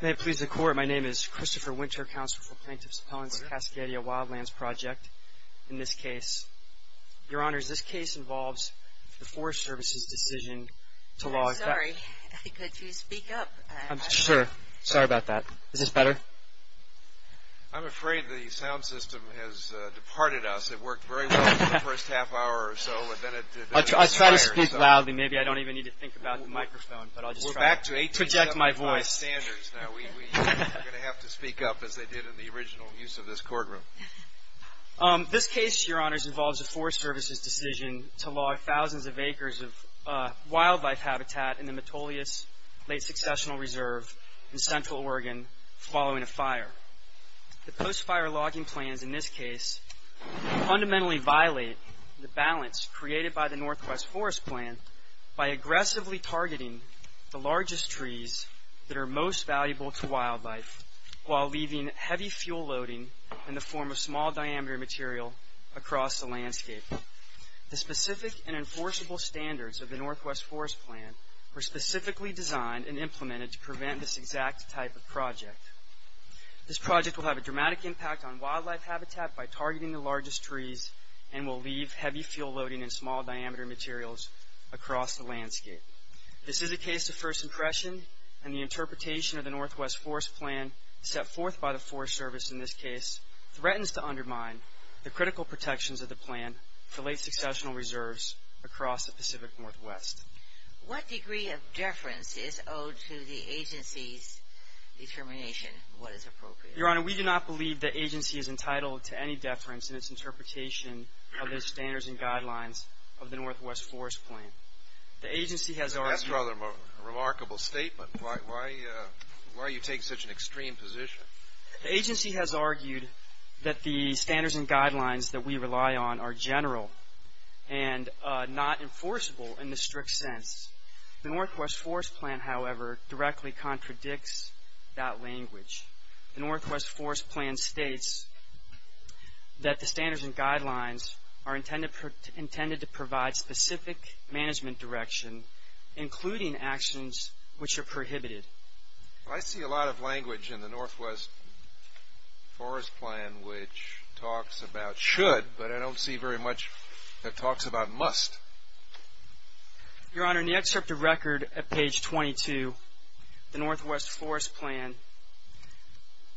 May it please the Court, my name is Christopher Winter, Counselor for Plaintiffs Appellants of the Cascadia Wildlands Project. In this case... Your Honors, this case involves the Forest Service's decision to log... I'm sorry, could you speak up? I'm sure. Sorry about that. Is this better? I'm afraid the sound system has departed us. It worked very well for the first half hour or so, I'll try to speak loudly. Maybe I don't even need to think about the microphone, but I'll just try to project my voice. We're back to 1875 standards now. We're going to have to speak up as they did in the original use of this courtroom. This case, Your Honors, involves the Forest Service's decision to log thousands of acres of wildlife habitat in the Metolius Late Successional Reserve in Central Oregon following a fire. The post-fire logging plans in this case fundamentally violate the balance created by the Northwest Forest Plan by aggressively targeting the largest trees that are most valuable to wildlife, while leaving heavy fuel loading in the form of small diameter material across the landscape. The specific and enforceable standards of the Northwest Forest Plan were specifically designed and implemented to prevent this exact type of project. This project will have a dramatic impact on wildlife habitat by targeting the largest trees and will leave heavy fuel loading in small diameter materials across the landscape. This is a case of first impression, and the interpretation of the Northwest Forest Plan set forth by the Forest Service in this case threatens to undermine the critical protections of the plan for late successional reserves across the Pacific Northwest. What degree of deference is owed to the agency's determination of what is appropriate? Your Honor, we do not believe the agency is entitled to any deference in its interpretation of the standards and guidelines of the Northwest Forest Plan. That's rather a remarkable statement. Why do you take such an extreme position? The agency has argued that the standards and guidelines that we rely on are general and not enforceable in the strict sense. The Northwest Forest Plan, however, directly contradicts that language. The Northwest Forest Plan states that the standards and guidelines are intended to provide specific management direction, including actions which are prohibited. I see a lot of language in the Northwest Forest Plan which talks about should, but I don't see very much that talks about must. Your Honor, in the excerpt of record at page 22, the Northwest Forest Plan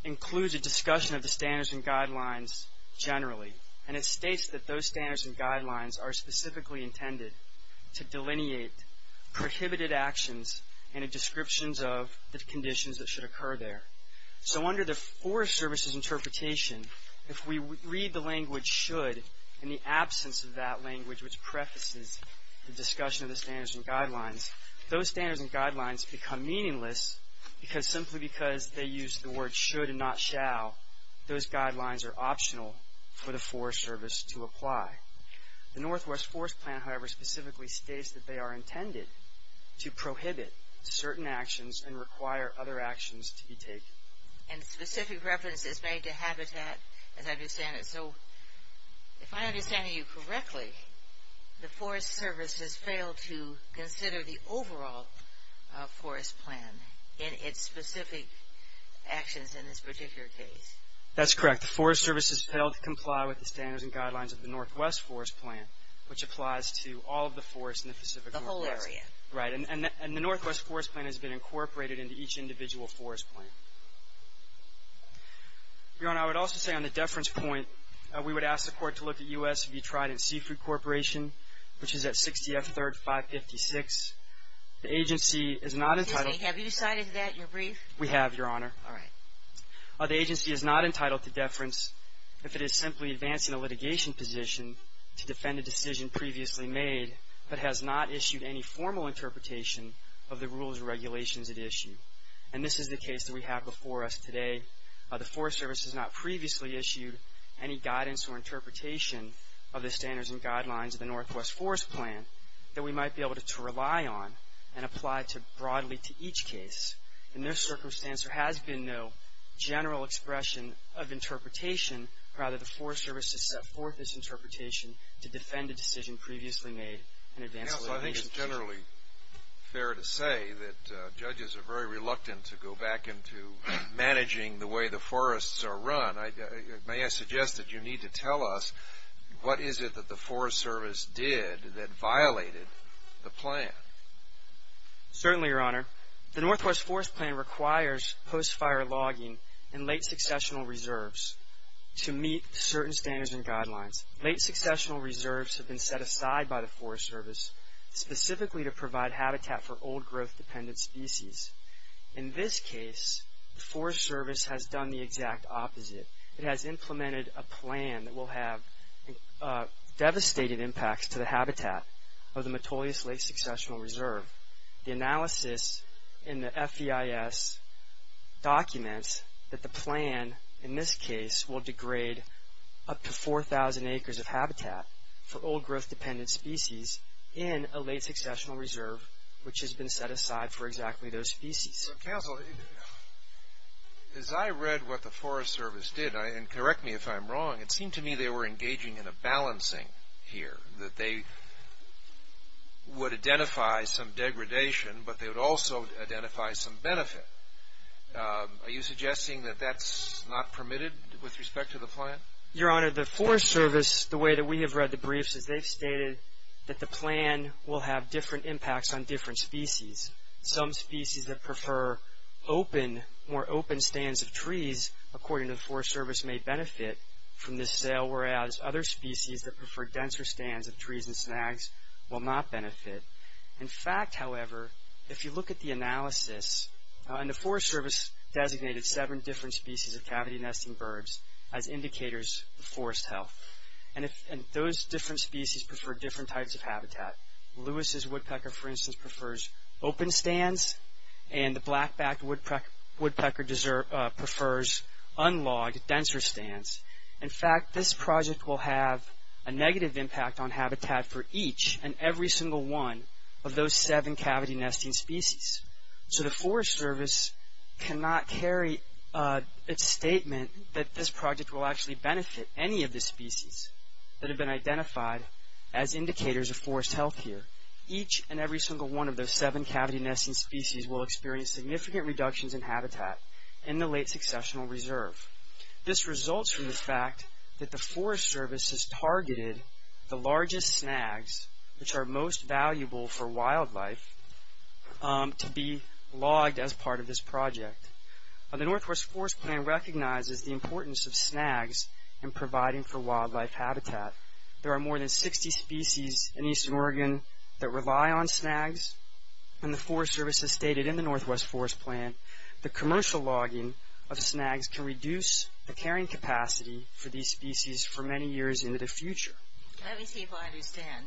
includes a discussion of the standards and guidelines generally, and it states that those standards and guidelines are specifically intended to delineate prohibited actions and a description of the conditions that should occur there. So under the Forest Service's interpretation, if we read the language should in the absence of that language which prefaces the discussion of the standards and guidelines, those standards and guidelines become meaningless simply because they use the word should and not shall. Those guidelines are optional for the Forest Service to apply. The Northwest Forest Plan, however, specifically states that they are intended to prohibit certain actions and require other actions to be taken. And specific reference is made to habitat as I understand it. So if I understand you correctly, the Forest Service has failed to consider the overall forest plan in its specific actions in this particular case. That's correct. The Forest Service has failed to comply with the standards and guidelines of the Northwest Forest Plan which applies to all of the forests in the Pacific Northwest. The whole area. Right. And the Northwest Forest Plan has been incorporated into each individual forest plan. Your Honor, I would also say on the deference point, we would ask the Court to look at U.S. if you tried in Seafood Corporation, which is at 60 F. 3rd, 556. The agency is not entitled to deference. Excuse me. Have you cited that in your brief? We have, Your Honor. All right. The agency is not entitled to deference if it is simply advancing a litigation position to defend a decision previously made that has not issued any formal interpretation of the rules and regulations at issue. And this is the case that we have before us today. The Forest Service has not previously issued any guidance or interpretation of the standards and guidelines of the Northwest Forest Plan that we might be able to rely on and apply broadly to each case. In this circumstance, there has been no general expression of interpretation. Rather, the Forest Service has set forth this interpretation to defend a decision previously made and advance a litigation position. Counsel, I think it's generally fair to say that judges are very reluctant to go back into managing the way the forests are run. May I suggest that you need to tell us what is it that the Forest Service did that violated the plan? Certainly, Your Honor. The Northwest Forest Plan requires post-fire logging and late successional reserves. to meet certain standards and guidelines. Late successional reserves have been set aside by the Forest Service specifically to provide habitat for old growth-dependent species. In this case, the Forest Service has done the exact opposite. It has implemented a plan that will have devastated impacts to the habitat of the Metolius Late Successional Reserve. The analysis in the FEIS documents that the plan, in this case, will degrade up to 4,000 acres of habitat for old growth-dependent species in a late successional reserve, which has been set aside for exactly those species. Counsel, as I read what the Forest Service did, and correct me if I'm wrong, it seemed to me they were engaging in a balancing here, that they would identify some degradation, but they would also identify some benefit. Are you suggesting that that's not permitted with respect to the plan? Your Honor, the Forest Service, the way that we have read the briefs, is they've stated that the plan will have different impacts on different species. Some species that prefer open, more open stands of trees, according to the Forest Service, may benefit from this sale, whereas other species that prefer denser stands of trees and snags will not benefit. In fact, however, if you look at the analysis, and the Forest Service designated seven different species of cavity-nesting birds as indicators of forest health, and those different species prefer different types of habitat. Lewis's woodpecker, for instance, prefers open stands, and the black-backed woodpecker prefers unlogged, denser stands. In fact, this project will have a negative impact on habitat for each and every single one of those seven cavity-nesting species. So the Forest Service cannot carry a statement that this project will actually benefit any of the species that have been identified as indicators of forest health here. Each and every single one of those seven cavity-nesting species will experience significant reductions in habitat in the late successional reserve. This results from the fact that the Forest Service has targeted the largest snags, which are most valuable for wildlife, to be logged as part of this project. The Northwest Forest Plan recognizes the importance of snags in providing for wildlife habitat. There are more than 60 species in eastern Oregon that rely on snags, and the Forest Service has stated in the Northwest Forest Plan that commercial logging of snags can reduce the carrying capacity for these species for many years into the future. Let me see if I understand.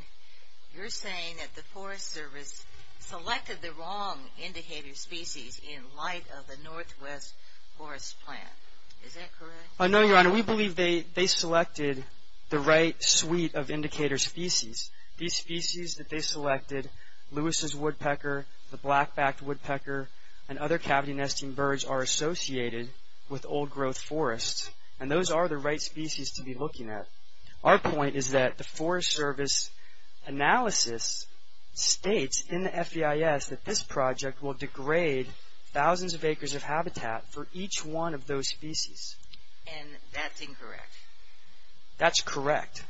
You're saying that the Forest Service selected the wrong indicator species in light of the Northwest Forest Plan. Is that correct? No, Your Honor. We believe they selected the right suite of indicator species. These species that they selected, Lewis's woodpecker, the black-backed woodpecker, and other cavity-nesting birds are associated with old-growth forests, and those are the right species to be looking at. Our point is that the Forest Service analysis states in the FEIS that this project will degrade thousands of acres of habitat for each one of those species. And that's incorrect? That's correct.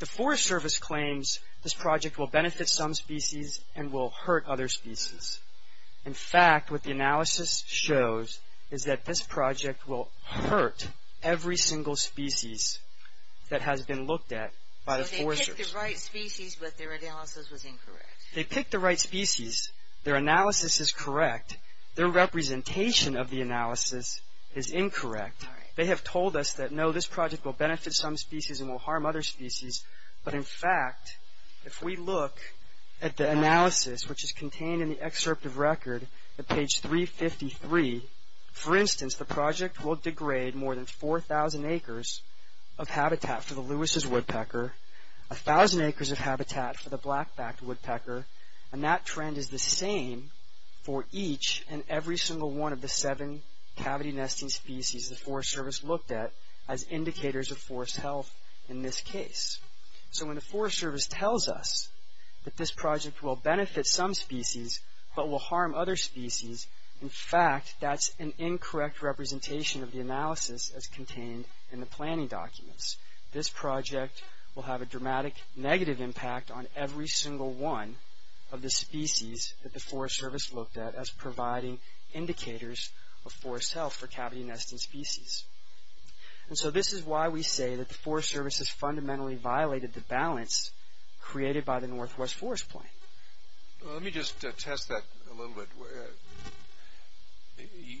The Forest Service claims this project will benefit some species and will hurt other species. In fact, what the analysis shows is that this project will hurt every single species that has been looked at by the Forest Service. So they picked the right species, but their analysis was incorrect? They picked the right species. Their analysis is correct. Their representation of the analysis is incorrect. They have told us that, no, this project will benefit some species and will harm other species. But, in fact, if we look at the analysis, which is contained in the excerpt of record at page 353, for instance, the project will degrade more than 4,000 acres of habitat for the Lewis's woodpecker, 1,000 acres of habitat for the black-backed woodpecker, and that trend is the same for each and every single one of the seven cavity-nesting species the Forest Service looked at as indicators of forest health in this case. So when the Forest Service tells us that this project will benefit some species but will harm other species, in fact, that's an incorrect representation of the analysis as contained in the planning documents. This project will have a dramatic negative impact on every single one of the species that the Forest Service looked at as providing indicators of forest health for cavity-nesting species. And so this is why we say that the Forest Service has fundamentally violated the balance created by the Northwest Forest Plan. Let me just test that a little bit.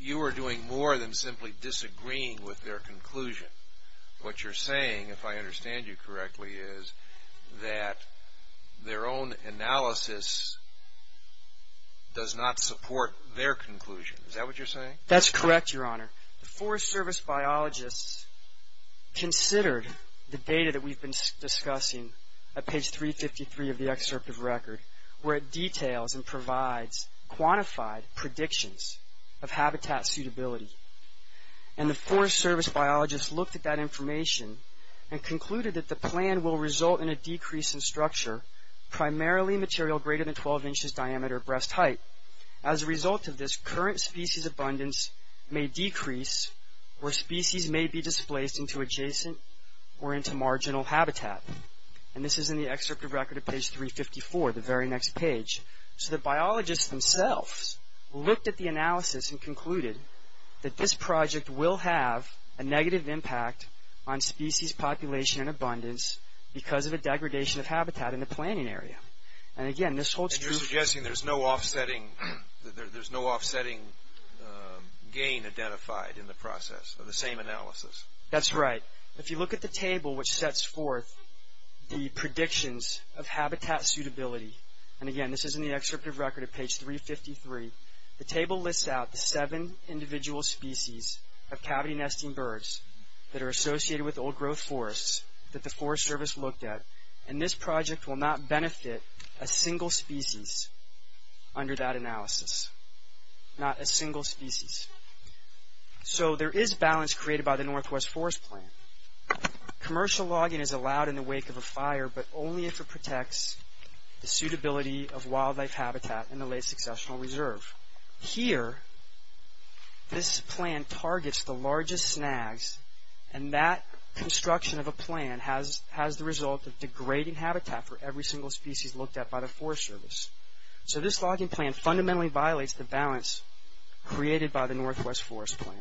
You are doing more than simply disagreeing with their conclusion. What you're saying, if I understand you correctly, is that their own analysis does not support their conclusion. Is that what you're saying? That's correct, Your Honor. The Forest Service biologists considered the data that we've been discussing at page 353 of the excerpt of record, where it details and provides quantified predictions of habitat suitability. And the Forest Service biologists looked at that information and concluded that the plan will result in a decrease in structure, primarily material greater than 12 inches diameter at breast height. As a result of this, current species abundance may decrease or species may be displaced into adjacent or into marginal habitat. And this is in the excerpt of record at page 354, the very next page. So the biologists themselves looked at the analysis and concluded that this project will have a negative impact on species population and abundance because of a degradation of habitat in the planning area. And again, this holds true. And you're suggesting there's no offsetting gain identified in the process of the same analysis. That's right. If you look at the table which sets forth the predictions of habitat suitability, and again, this is in the excerpt of record at page 353, the table lists out the seven individual species of cavity nesting birds that are associated with old growth forests that the Forest Service looked at. And this project will not benefit a single species under that analysis. Not a single species. So there is balance created by the Northwest Forest Plan. Commercial logging is allowed in the wake of a fire, but only if it protects the suitability of wildlife habitat in the late successional reserve. Here, this plan targets the largest snags, and that construction of a plan has the result of degrading habitat for every single species looked at by the Forest Service. So this logging plan fundamentally violates the balance created by the Northwest Forest Plan.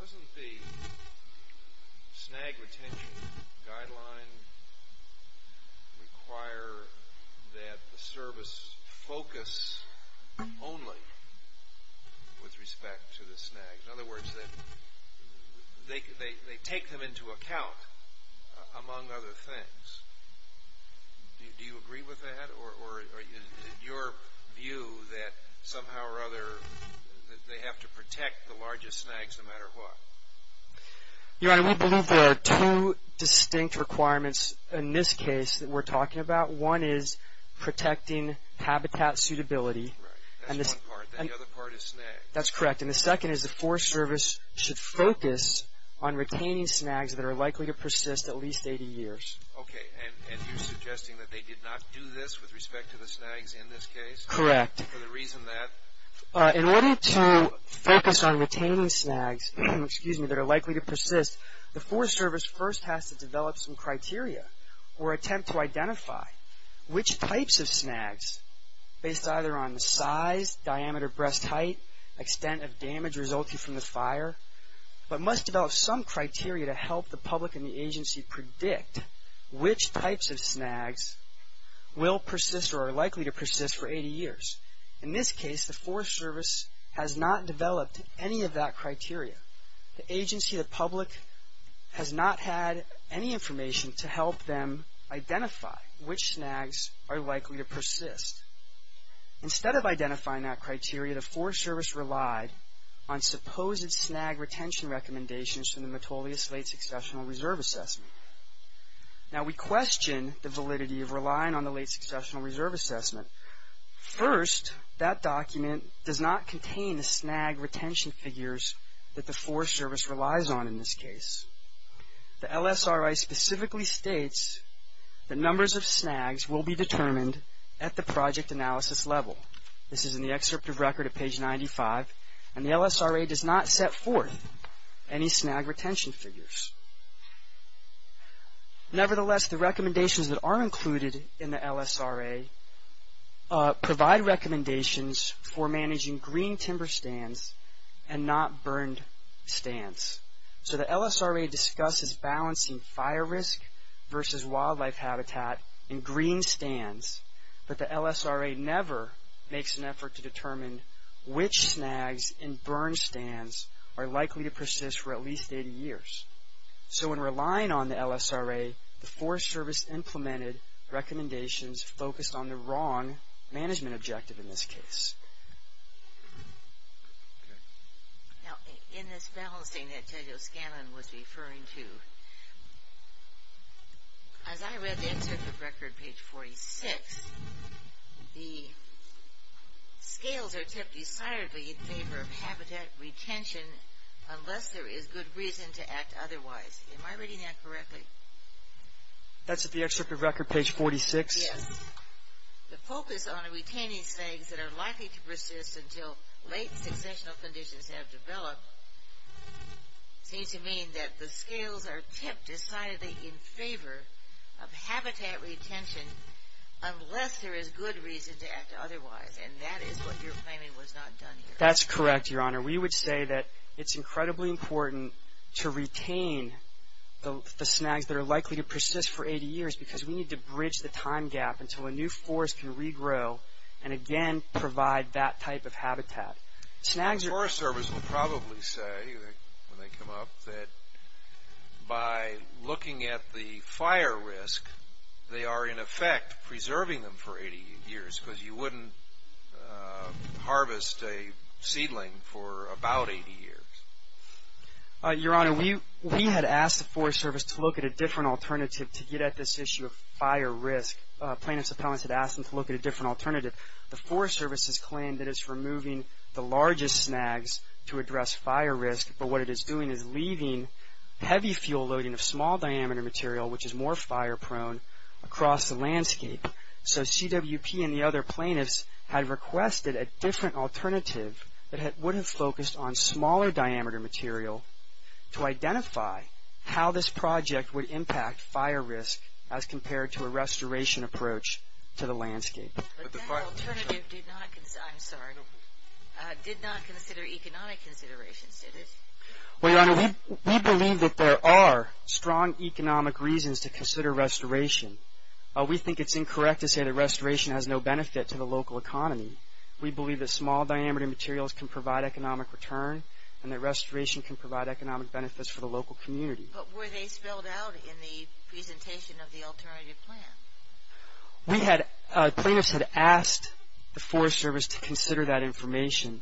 Doesn't the snag retention guideline require that the service focus only with respect to the snags? In other words, that they take them into account among other things. Do you agree with that? Or is it your view that somehow or other they have to protect the largest snags no matter what? Your Honor, we believe there are two distinct requirements in this case that we're talking about. One is protecting habitat suitability. Right. That's one part. The other part is snag. That's correct. And the second is the Forest Service should focus on retaining snags that are likely to persist at least 80 years. Okay. And you're suggesting that they did not do this with respect to the snags in this case? Correct. For the reason that? In order to focus on retaining snags that are likely to persist, the Forest Service first has to develop some criteria or attempt to identify which types of snags, based either on the size, diameter, breast height, extent of damage resulting from the fire, but must develop some criteria to help the public and the agency predict which types of snags will persist or are likely to persist for 80 years. In this case, the Forest Service has not developed any of that criteria. The agency, the public, has not had any information to help them identify which snags are likely to persist. Instead of identifying that criteria, the Forest Service relied on supposed snag retention recommendations from the Metolius Late Successional Reserve Assessment. Now, we question the validity of relying on the Late Successional Reserve Assessment. First, that document does not contain the snag retention figures that the Forest Service relies on in this case. The LSRA specifically states that numbers of snags will be determined at the project analysis level. This is in the excerpt of record at page 95, and the LSRA does not set forth any snag retention figures. Nevertheless, the recommendations that are included in the LSRA provide recommendations for managing green timber stands and not burned stands. So the LSRA discusses balancing fire risk versus wildlife habitat in green stands, but the LSRA never makes an effort to determine which snags in burned stands are likely to persist for at least 80 years. So in relying on the LSRA, the Forest Service implemented recommendations focused on the wrong management objective in this case. Now, in this balancing that Tejo Scanlon was referring to, as I read the excerpt of record, page 46, the scales are tipped decidedly in favor of habitat retention unless there is good reason to act otherwise. Am I reading that correctly? That's the excerpt of record, page 46? Yes. The focus on retaining snags that are likely to persist until late successional conditions have developed seems to mean that the scales are tipped decidedly in favor of habitat retention unless there is good reason to act otherwise, and that is what you're claiming was not done here. That's correct, Your Honor. We would say that it's incredibly important to retain the snags that are likely to persist for 80 years because we need to bridge the time gap until a new forest can regrow and again provide that type of habitat. The Forest Service will probably say when they come up that by looking at the fire risk, they are in effect preserving them for 80 years because you wouldn't harvest a seedling for about 80 years. Your Honor, we had asked the Forest Service to look at a different alternative to get at this issue of fire risk. Plaintiff's appellants had asked them to look at a different alternative. The Forest Service has claimed that it's removing the largest snags to address fire risk, but what it is doing is leaving heavy fuel loading of small diameter material, which is more fire prone, across the landscape. So, CWP and the other plaintiffs had requested a different alternative that would have focused on smaller diameter material to identify how this project would impact fire risk as compared to a restoration approach to the landscape. But that alternative did not consider economic considerations, did it? Well, Your Honor, we believe that there are strong economic reasons to consider restoration. We think it's incorrect to say that restoration has no benefit to the local economy. We believe that small diameter materials can provide economic return and that restoration can provide economic benefits for the local community. But were they spelled out in the presentation of the alternative plan? We had, plaintiffs had asked the Forest Service to consider that information.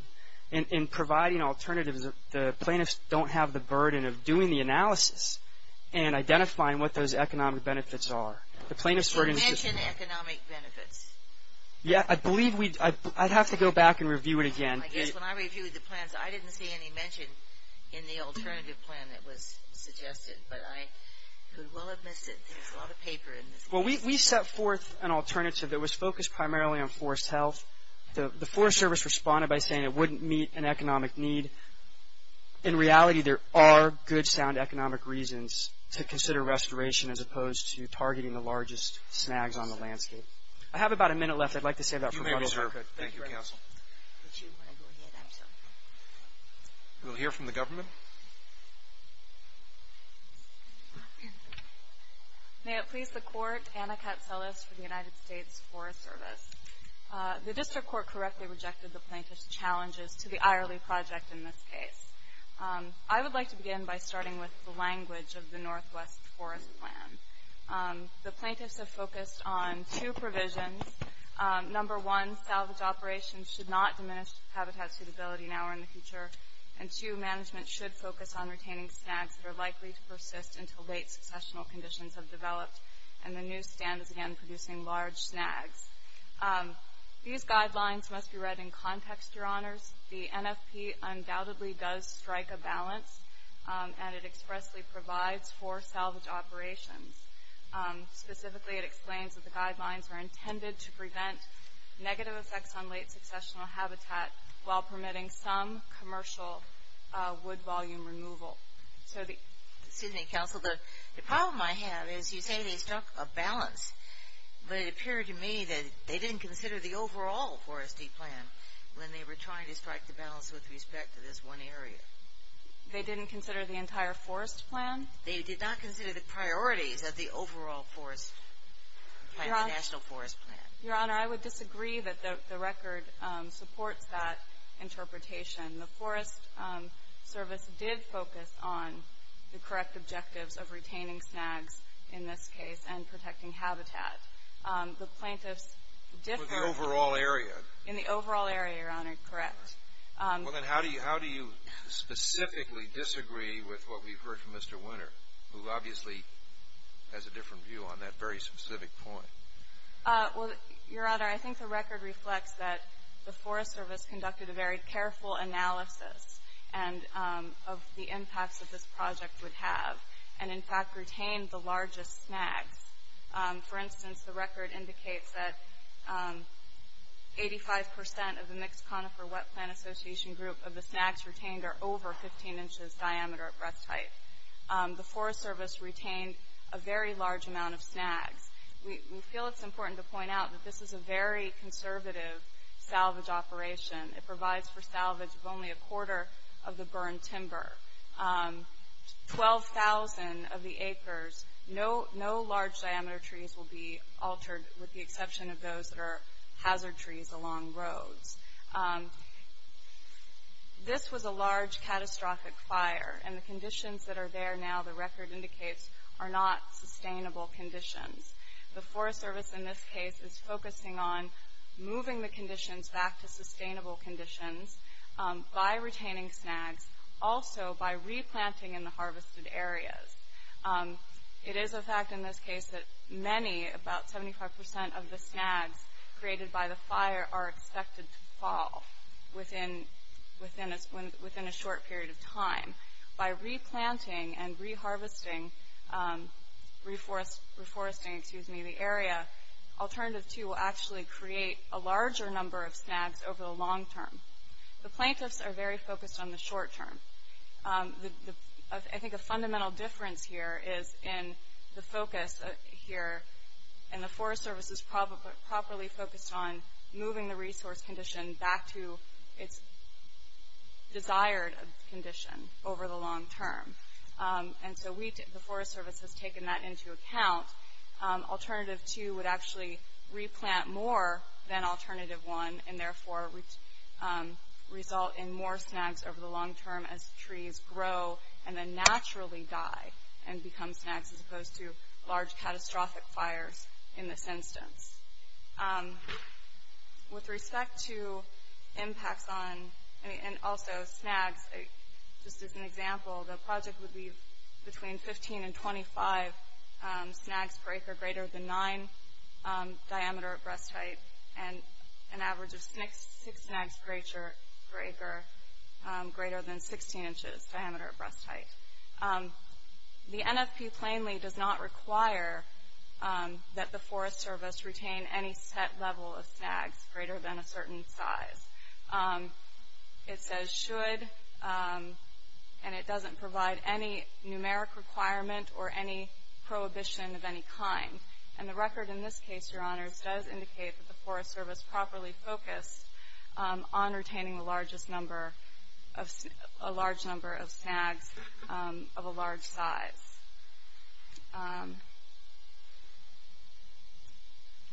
In providing alternatives, the plaintiffs don't have the burden of doing the analysis and identifying what those economic benefits are. You mentioned economic benefits. Yeah, I believe we, I'd have to go back and review it again. I guess when I reviewed the plans, I didn't see any mention in the alternative plan that was suggested, but I could well have missed it. There's a lot of paper in this. Well, we set forth an alternative that was focused primarily on forest health. The Forest Service responded by saying it wouldn't meet an economic need. In reality, there are good, sound economic reasons to consider restoration as opposed to targeting the largest snags on the landscape. I have about a minute left. I'd like to save that for Final Circuit. You may be served. Thank you, Counsel. We'll hear from the government. May it please the Court, Anna Katselis for the United States Forest Service. The District Court correctly rejected the plaintiff's challenges to the Ireley Project in this case. I would like to begin by starting with the language of the Northwest Forest Plan. The plaintiffs have focused on two provisions. Number one, salvage operations should not diminish habitat suitability now or in the future, and two, management should focus on retaining snags that are likely to persist until late successional conditions have developed and the new stand is again producing large snags. These guidelines must be read in context, Your Honors. The NFP undoubtedly does strike a balance, and it expressly provides for salvage operations. Specifically, it explains that the guidelines are intended to prevent negative effects on late successional habitat while permitting some commercial wood volume removal. Excuse me, Counsel. The problem I have is you say they struck a balance, but it appeared to me that they didn't consider the overall foresty plan when they were trying to strike the balance with respect to this one area. They didn't consider the entire forest plan? They did not consider the priorities of the overall forest plan, the National Forest Plan. Your Honor, I would disagree that the record supports that interpretation. The Forest Service did focus on the correct objectives of retaining snags in this case and protecting habitat. The plaintiffs differed in the overall area, Your Honor, correct. Well, then how do you specifically disagree with what we've heard from Mr. Winter, who obviously has a different view on that very specific point? Well, Your Honor, I think the record reflects that the Forest Service conducted a very careful analysis of the impacts that this project would have and, in fact, retained the largest snags. For instance, the record indicates that 85% of the Mixed Conifer Wet Plan Association group of the snags retained are over 15 inches diameter at breast height. The Forest Service retained a very large amount of snags. We feel it's important to point out that this is a very conservative salvage operation. It provides for salvage of only a quarter of the burned timber. Twelve thousand of the acres, no large diameter trees will be altered with the exception of those that are hazard trees along roads. This was a large catastrophic fire, and the conditions that are there now, the record indicates, are not sustainable conditions. The Forest Service in this case is focusing on moving the conditions back to sustainable conditions by retaining snags, also by replanting in the harvested areas. It is a fact in this case that many, about 75% of the snags created by the fire, are expected to fall within a short period of time. By replanting and re-harvesting, reforesting, excuse me, the area, alternative two will actually create a larger number of snags over the long term. The plaintiffs are very focused on the short term. I think a fundamental difference here is in the focus here, and the Forest Service is properly focused on moving the resource condition back to its desired condition over the long term. And so the Forest Service has taken that into account. Alternative two would actually replant more than alternative one, and therefore result in more snags over the long term as trees grow and then naturally die and become snags as opposed to large catastrophic fires in this instance. With respect to impacts on, and also snags, just as an example, the project would be between 15 and 25 snags per acre greater than 9 diameter at breast height, and an average of 6 snags per acre greater than 16 inches diameter at breast height. The NFP plainly does not require that the Forest Service retain any set level of snags greater than a certain size. It says should, and it doesn't provide any numeric requirement or any prohibition of any kind. And the record in this case, Your Honors, does indicate that the Forest Service is properly focused on retaining a large number of snags of a large size.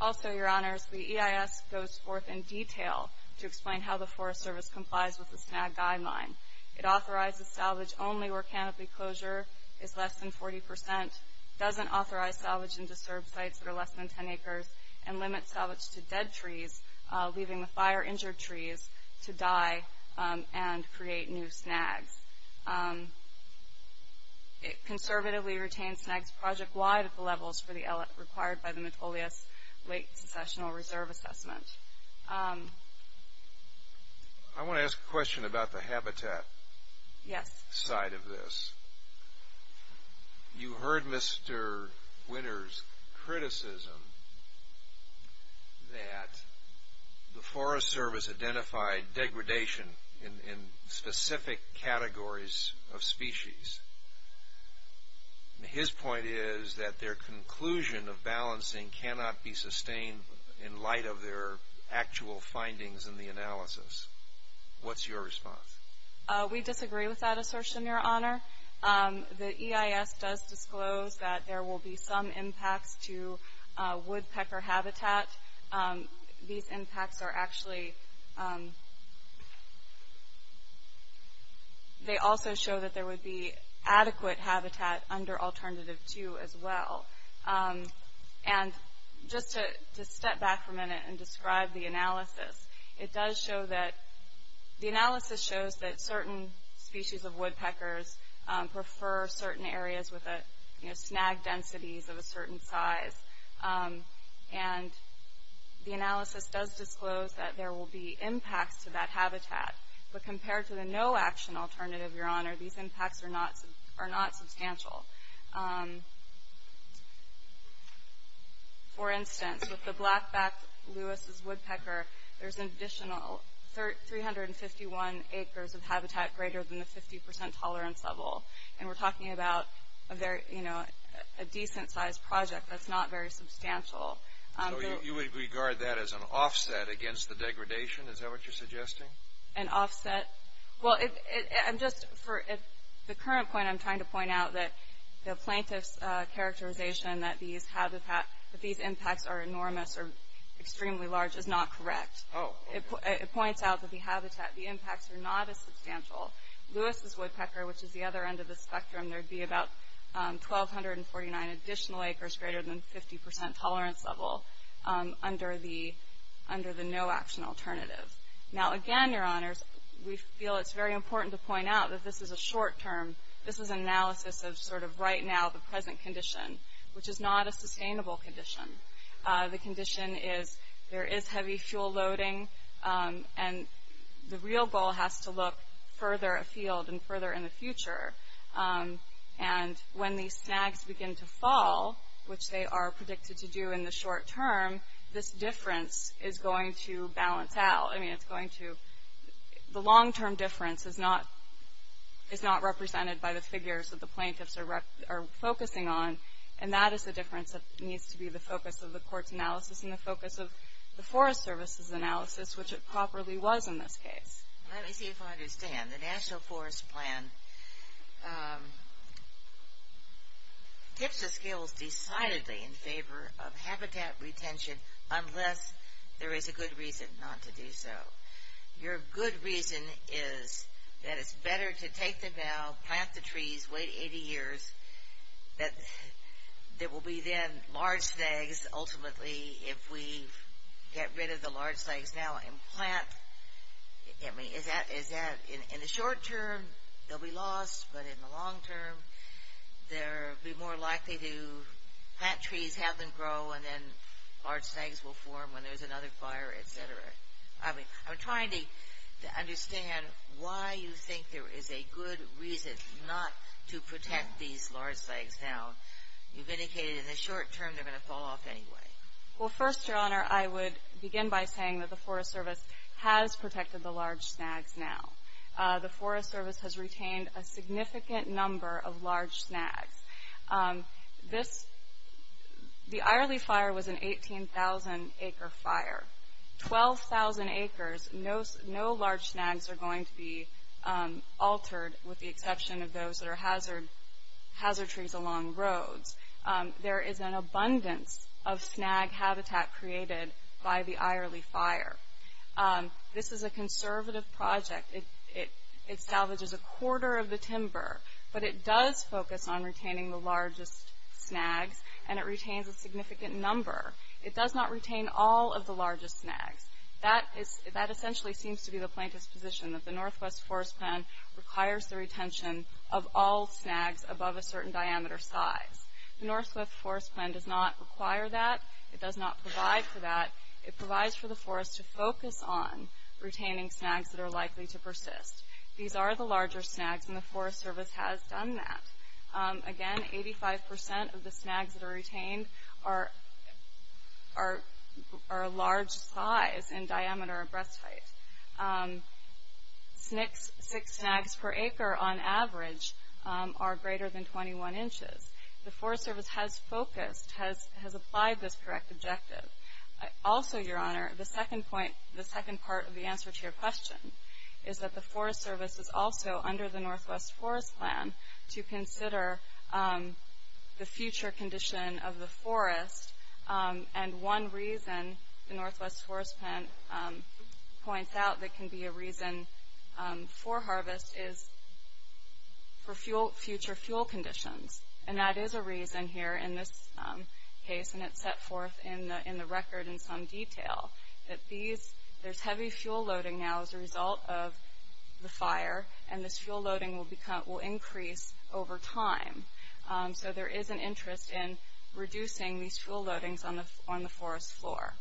Also, Your Honors, the EIS goes forth in detail to explain how the Forest Service complies with the snag guideline. It authorizes salvage only where canopy closure is less than 40 percent, doesn't authorize salvage in disturbed sites that are less than 10 acres, and limits salvage to dead trees, leaving the fire-injured trees to die and create new snags. It conservatively retains snags project-wide at the levels required by the Metolius Lake Successional Reserve Assessment. I want to ask a question about the habitat side of this. You heard Mr. Winters' criticism that the Forest Service identified degradation in specific categories of species. His point is that their conclusion of balancing cannot be sustained in light of their actual findings in the analysis. What's your response? We disagree with that assertion, Your Honor. The EIS does disclose that there will be some impacts to woodpecker habitat. These impacts are actually... They also show that there would be adequate habitat under Alternative 2 as well. And just to step back for a minute and describe the analysis, it does show that... The analysis shows that certain species of woodpeckers prefer certain areas with snag densities of a certain size. And the analysis does disclose that there will be impacts to that habitat. But compared to the no-action alternative, Your Honor, these impacts are not substantial. For instance, with the black-backed Lewis's woodpecker, there's an additional 351 acres of habitat greater than the 50% tolerance level. And we're talking about a decent-sized project that's not very substantial. So you would regard that as an offset against the degradation? Is that what you're suggesting? An offset? Well, I'm just... For the current point, I'm trying to point out that the plaintiff's characterization that these impacts are enormous or extremely large is not correct. Oh. It points out that the impacts are not as substantial. Lewis's woodpecker, which is the other end of the spectrum, there would be about 1,249 additional acres greater than 50% tolerance level under the no-action alternative. Now, again, Your Honors, we feel it's very important to point out that this is a short term. This is an analysis of sort of right now the present condition, which is not a sustainable condition. The condition is there is heavy fuel loading, and the real goal has to look further afield and further in the future. And when these snags begin to fall, which they are predicted to do in the short term, this difference is going to balance out. I mean, it's going to... The long term difference is not represented by the figures that the plaintiffs are focusing on, and that is the difference that needs to be the focus of the court's analysis and the focus of the Forest Service's analysis, which it properly was in this case. Let me see if I understand. The National Forest Plan tips the scales decidedly in favor of habitat retention unless there is a good reason not to do so. Your good reason is that it's better to take them now, plant the trees, wait 80 years, that there will be then large snags ultimately if we get rid of the large snags now and plant. I mean, is that... In the short term, they'll be lost, but in the long term, they'll be more likely to plant trees, have them grow, and then large snags will form when there's another fire, et cetera. I mean, I'm trying to understand why you think there is a good reason not to protect these large snags now. You've indicated in the short term they're going to fall off anyway. Well, first, Your Honor, I would begin by saying that the Forest Service has protected the large snags now. The Forest Service has retained a significant number of large snags. This, the Eyerle Fire was an 18,000-acre fire. 12,000 acres, no large snags are going to be altered with the exception of those that are hazard trees along roads. There is an abundance of snag habitat created by the Eyerle Fire. This is a conservative project. It salvages a quarter of the timber, but it does focus on retaining the largest snags, and it retains a significant number. It does not retain all of the largest snags. That essentially seems to be the plaintiff's position, that the Northwest Forest Plan requires the retention of all snags above a certain diameter size. The Northwest Forest Plan does not require that. It does not provide for that. It provides for the Forest to focus on retaining snags that are likely to persist. These are the larger snags, and the Forest Service has done that. Again, 85% of the snags that are retained are a large size in diameter or breast height. Six snags per acre, on average, are greater than 21 inches. The Forest Service has focused, has applied this correct objective. Also, Your Honor, the second part of the answer to your question is that the Forest Service is also under the Northwest Forest Plan to consider the future condition of the forest, and one reason the Northwest Forest Plan points out that can be a reason for harvest is for future fuel conditions, and that is a reason here in this case, and it's set forth in the record in some detail, that there's heavy fuel loading now as a result of the fire, and this fuel loading will increase over time. So there is an interest in reducing these fuel loadings on the forest floor.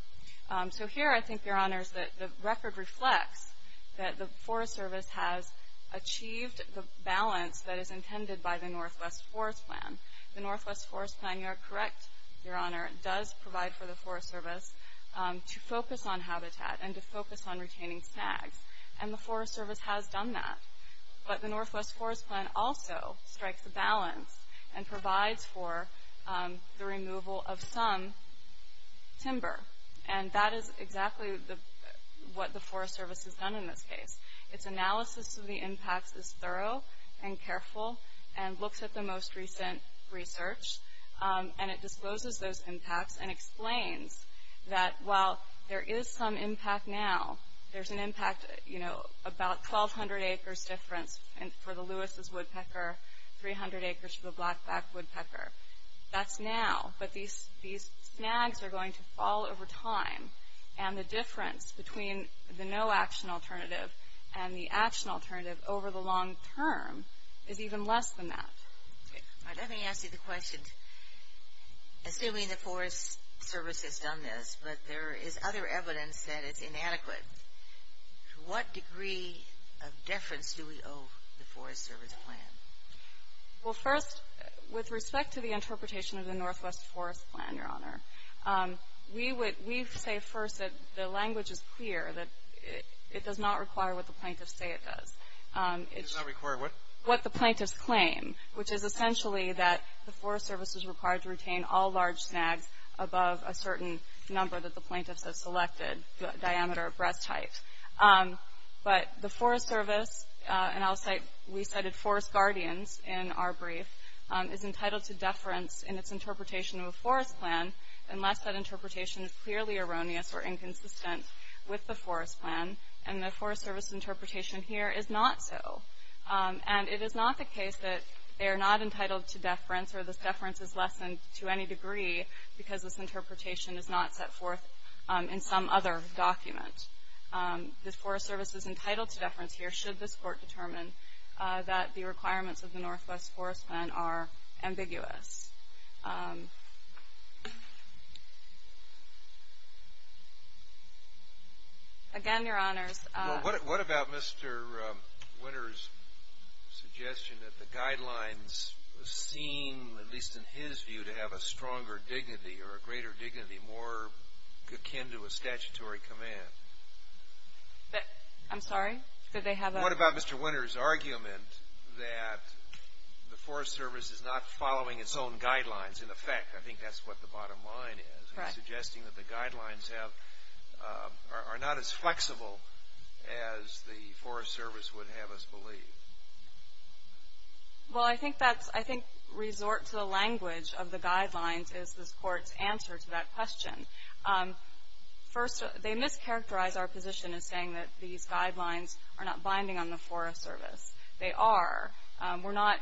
So here, I think, Your Honor, the record reflects that the Forest Service has achieved the balance that is intended by the Northwest Forest Plan. The Northwest Forest Plan, you are correct, Your Honor, does provide for the Forest Service to focus on habitat and to focus on retaining snags, and the Forest Service has done that. But the Northwest Forest Plan also strikes a balance and provides for the removal of some timber, and that is exactly what the Forest Service has done in this case. Its analysis of the impacts is thorough and careful and looks at the most recent research, and it discloses those impacts and explains that while there is some impact now, there's an impact, you know, about 1,200 acres difference for the Lewis's woodpecker, 300 acres for the Blackback woodpecker. That's now, but these snags are going to fall over time, and the difference between the no-action alternative and the action alternative over the long term is even less than that. Let me ask you the question. Assuming the Forest Service has done this, but there is other evidence that it's inadequate, to what degree of deference do we owe the Forest Service plan? Well, first, with respect to the interpretation of the Northwest Forest Plan, Your Honor, we say first that the language is clear, that it does not require what the plaintiffs say it does. It does not require what? What the plaintiffs claim, which is essentially that the Forest Service is required to retain all large snags above a certain number that the plaintiffs have selected, the diameter of breast height. But the Forest Service, and I'll cite, we cited Forest Guardians in our brief, is entitled to deference in its interpretation of a forest plan unless that interpretation is clearly erroneous or inconsistent with the Forest Plan, and the Forest Service interpretation here is not so. And it is not the case that they are not entitled to deference or this deference is lessened to any degree because this interpretation is not set forth in some other document. The Forest Service is entitled to deference here should this Court determine that the requirements of the Northwest Forest Plan are ambiguous. Again, Your Honors. Well, what about Mr. Winter's suggestion that the guidelines seem, at least in his view, to have a stronger dignity or a greater dignity, more akin to a statutory command? I'm sorry? What about Mr. Winter's argument that the Forest Service is not following its own guidelines in effect? I think that's what the bottom line is. Correct. What about Mr. Winter's suggestion that the guidelines are not as flexible as the Forest Service would have us believe? Well, I think resort to the language of the guidelines is this Court's answer to that question. First, they mischaracterize our position as saying that these guidelines are not binding on the Forest Service. They are. We're not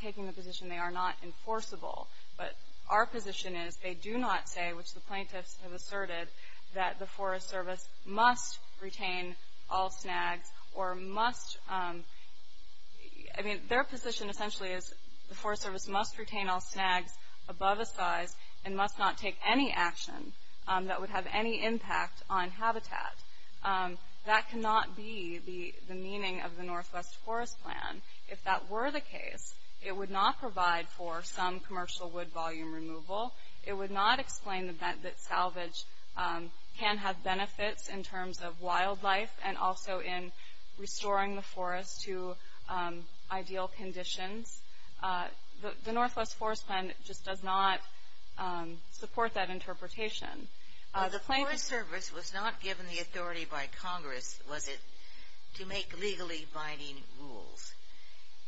taking the position they are not enforceable. But our position is they do not say, which the plaintiffs have asserted, that the Forest Service must retain all snags or must, I mean, their position essentially is the Forest Service must retain all snags above a size and must not take any action that would have any impact on habitat. That cannot be the meaning of the Northwest Forest Plan. If that were the case, it would not provide for some commercial wood volume removal. It would not explain that salvage can have benefits in terms of wildlife and also in restoring the forest to ideal conditions. The Northwest Forest Plan just does not support that interpretation. The Forest Service was not given the authority by Congress, was it, to make legally binding rules.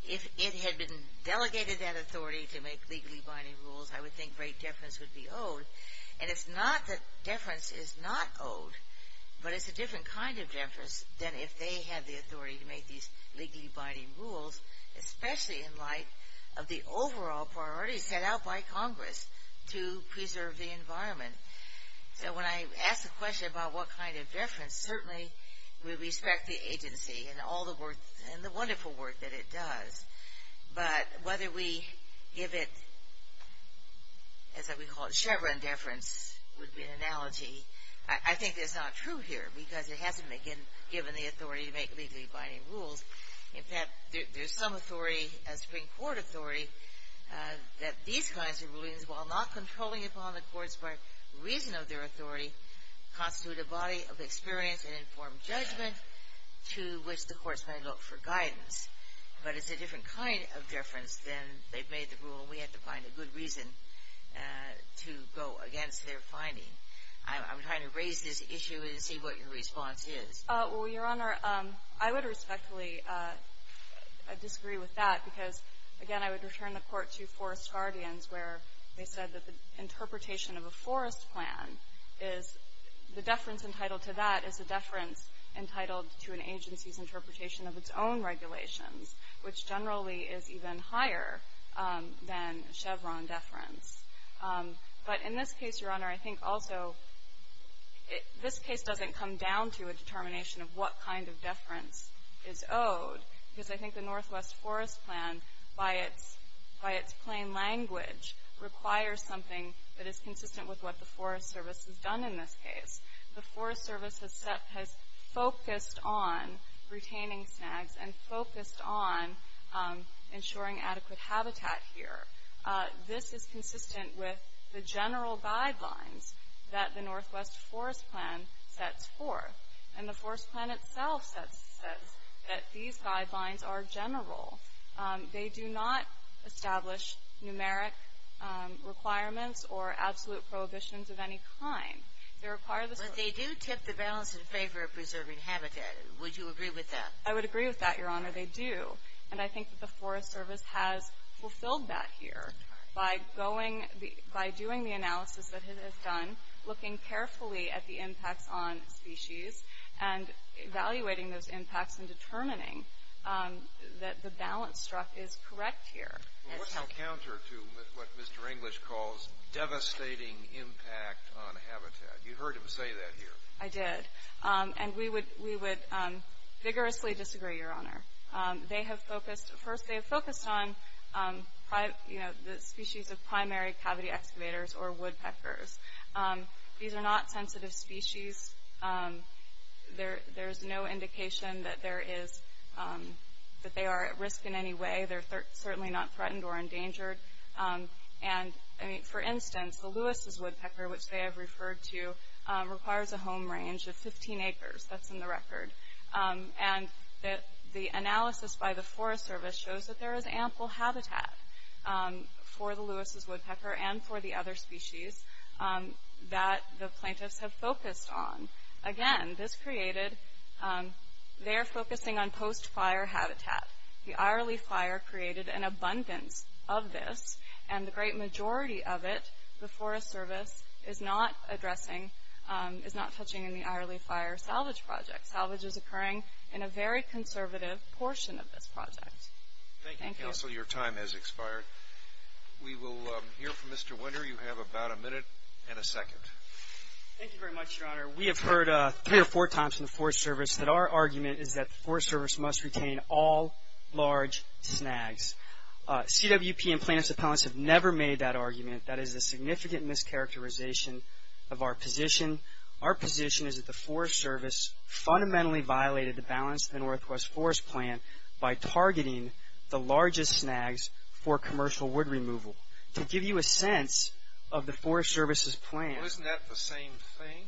If it had been delegated that authority to make legally binding rules, I would think great deference would be owed. And it's not that deference is not owed, but it's a different kind of deference than if they had the authority to make these legally binding rules, especially in light of the overall priorities set out by Congress to preserve the environment. So when I ask the question about what kind of deference, certainly we respect the agency and all the wonderful work that it does. But whether we give it, as we call it, Chevron deference would be an analogy. I think that's not true here because it hasn't been given the authority to make legally binding rules. In fact, there's some authority, a Supreme Court authority, that these kinds of rulings, while not controlling upon the courts by reason of their authority, constitute a body of experience and informed judgment to which the courts may look for guidance. But it's a different kind of deference than they've made the rule, and we have to find a good reason to go against their finding. I'm trying to raise this issue and see what your response is. Well, Your Honor, I would respectfully disagree with that because, again, I would return the court to Forest Guardians where they said that the interpretation of a forest plan is the deference entitled to that is a deference entitled to an agency's interpretation of its own regulations, which generally is even higher than Chevron deference. But in this case, Your Honor, I think also this case doesn't come down to a determination of what kind of deference is owed because I think the Northwest Forest Plan, by its plain language, requires something that is consistent with what the Forest Service has done in this case. The Forest Service has focused on retaining snags and focused on ensuring adequate habitat here. This is consistent with the general guidelines that the Northwest Forest Plan sets forth. And the Forest Plan itself says that these guidelines are general. They do not establish numeric requirements or absolute prohibitions of any kind. They require the service. But they do tip the balance in favor of preserving habitat. Would you agree with that? I would agree with that, Your Honor, they do. And I think the Forest Service has fulfilled that here by doing the analysis that it has done, looking carefully at the impacts on species and evaluating those impacts and determining that the balance struck is correct here. What's the counter to what Mr. English calls devastating impact on habitat? You heard him say that here. I did. And we would vigorously disagree, Your Honor. They have focused on the species of primary cavity excavators or woodpeckers. These are not sensitive species. There's no indication that they are at risk in any way. They're certainly not threatened or endangered. And, for instance, the Lewis's woodpecker, which they have referred to, requires a home range of 15 acres. That's in the record. And the analysis by the Forest Service shows that there is ample habitat for the Lewis's woodpecker and for the other species that the plaintiffs have focused on. Again, this created their focusing on post-fire habitat. The Ireland Fire created an abundance of this, and the great majority of it, the Forest Service is not addressing, is not touching in the Ireland Fire salvage project. Salvage is occurring in a very conservative portion of this project. Thank you, Counsel. Your time has expired. We will hear from Mr. Winter. You have about a minute and a second. Thank you very much, Your Honor. We have heard three or four times from the Forest Service that our argument is that the Forest Service must retain all large snags. CWP and plaintiffs' appellants have never made that argument. That is a significant mischaracterization of our position. Our position is that the Forest Service fundamentally violated the balance of the Northwest Forest Plan by targeting the largest snags for commercial wood removal. To give you a sense of the Forest Service's plan. Well, isn't that the same thing?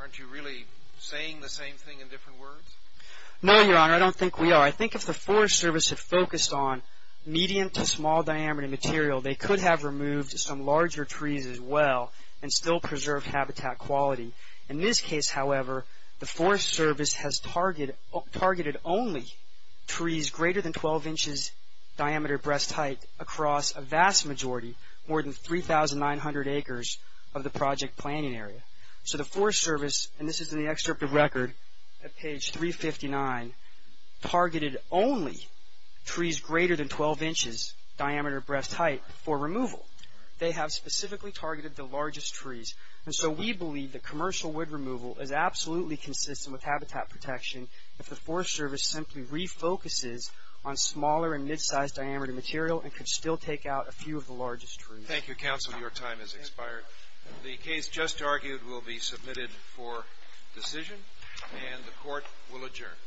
Aren't you really saying the same thing in different words? No, Your Honor, I don't think we are. I think if the Forest Service had focused on medium to small diameter material, they could have removed some larger trees as well and still preserved habitat quality. In this case, however, the Forest Service has targeted only trees greater than 12 inches diameter breast height across a vast majority, more than 3,900 acres of the project planning area. So the Forest Service, and this is in the excerpt of record at page 359, targeted only trees greater than 12 inches diameter breast height for removal. They have specifically targeted the largest trees. And so we believe that commercial wood removal is absolutely consistent with habitat protection if the Forest Service simply refocuses on smaller and mid-sized diameter material and could still take out a few of the largest trees. Thank you, Counsel. Your time has expired. The case just argued will be submitted for decision, and the Court will adjourn.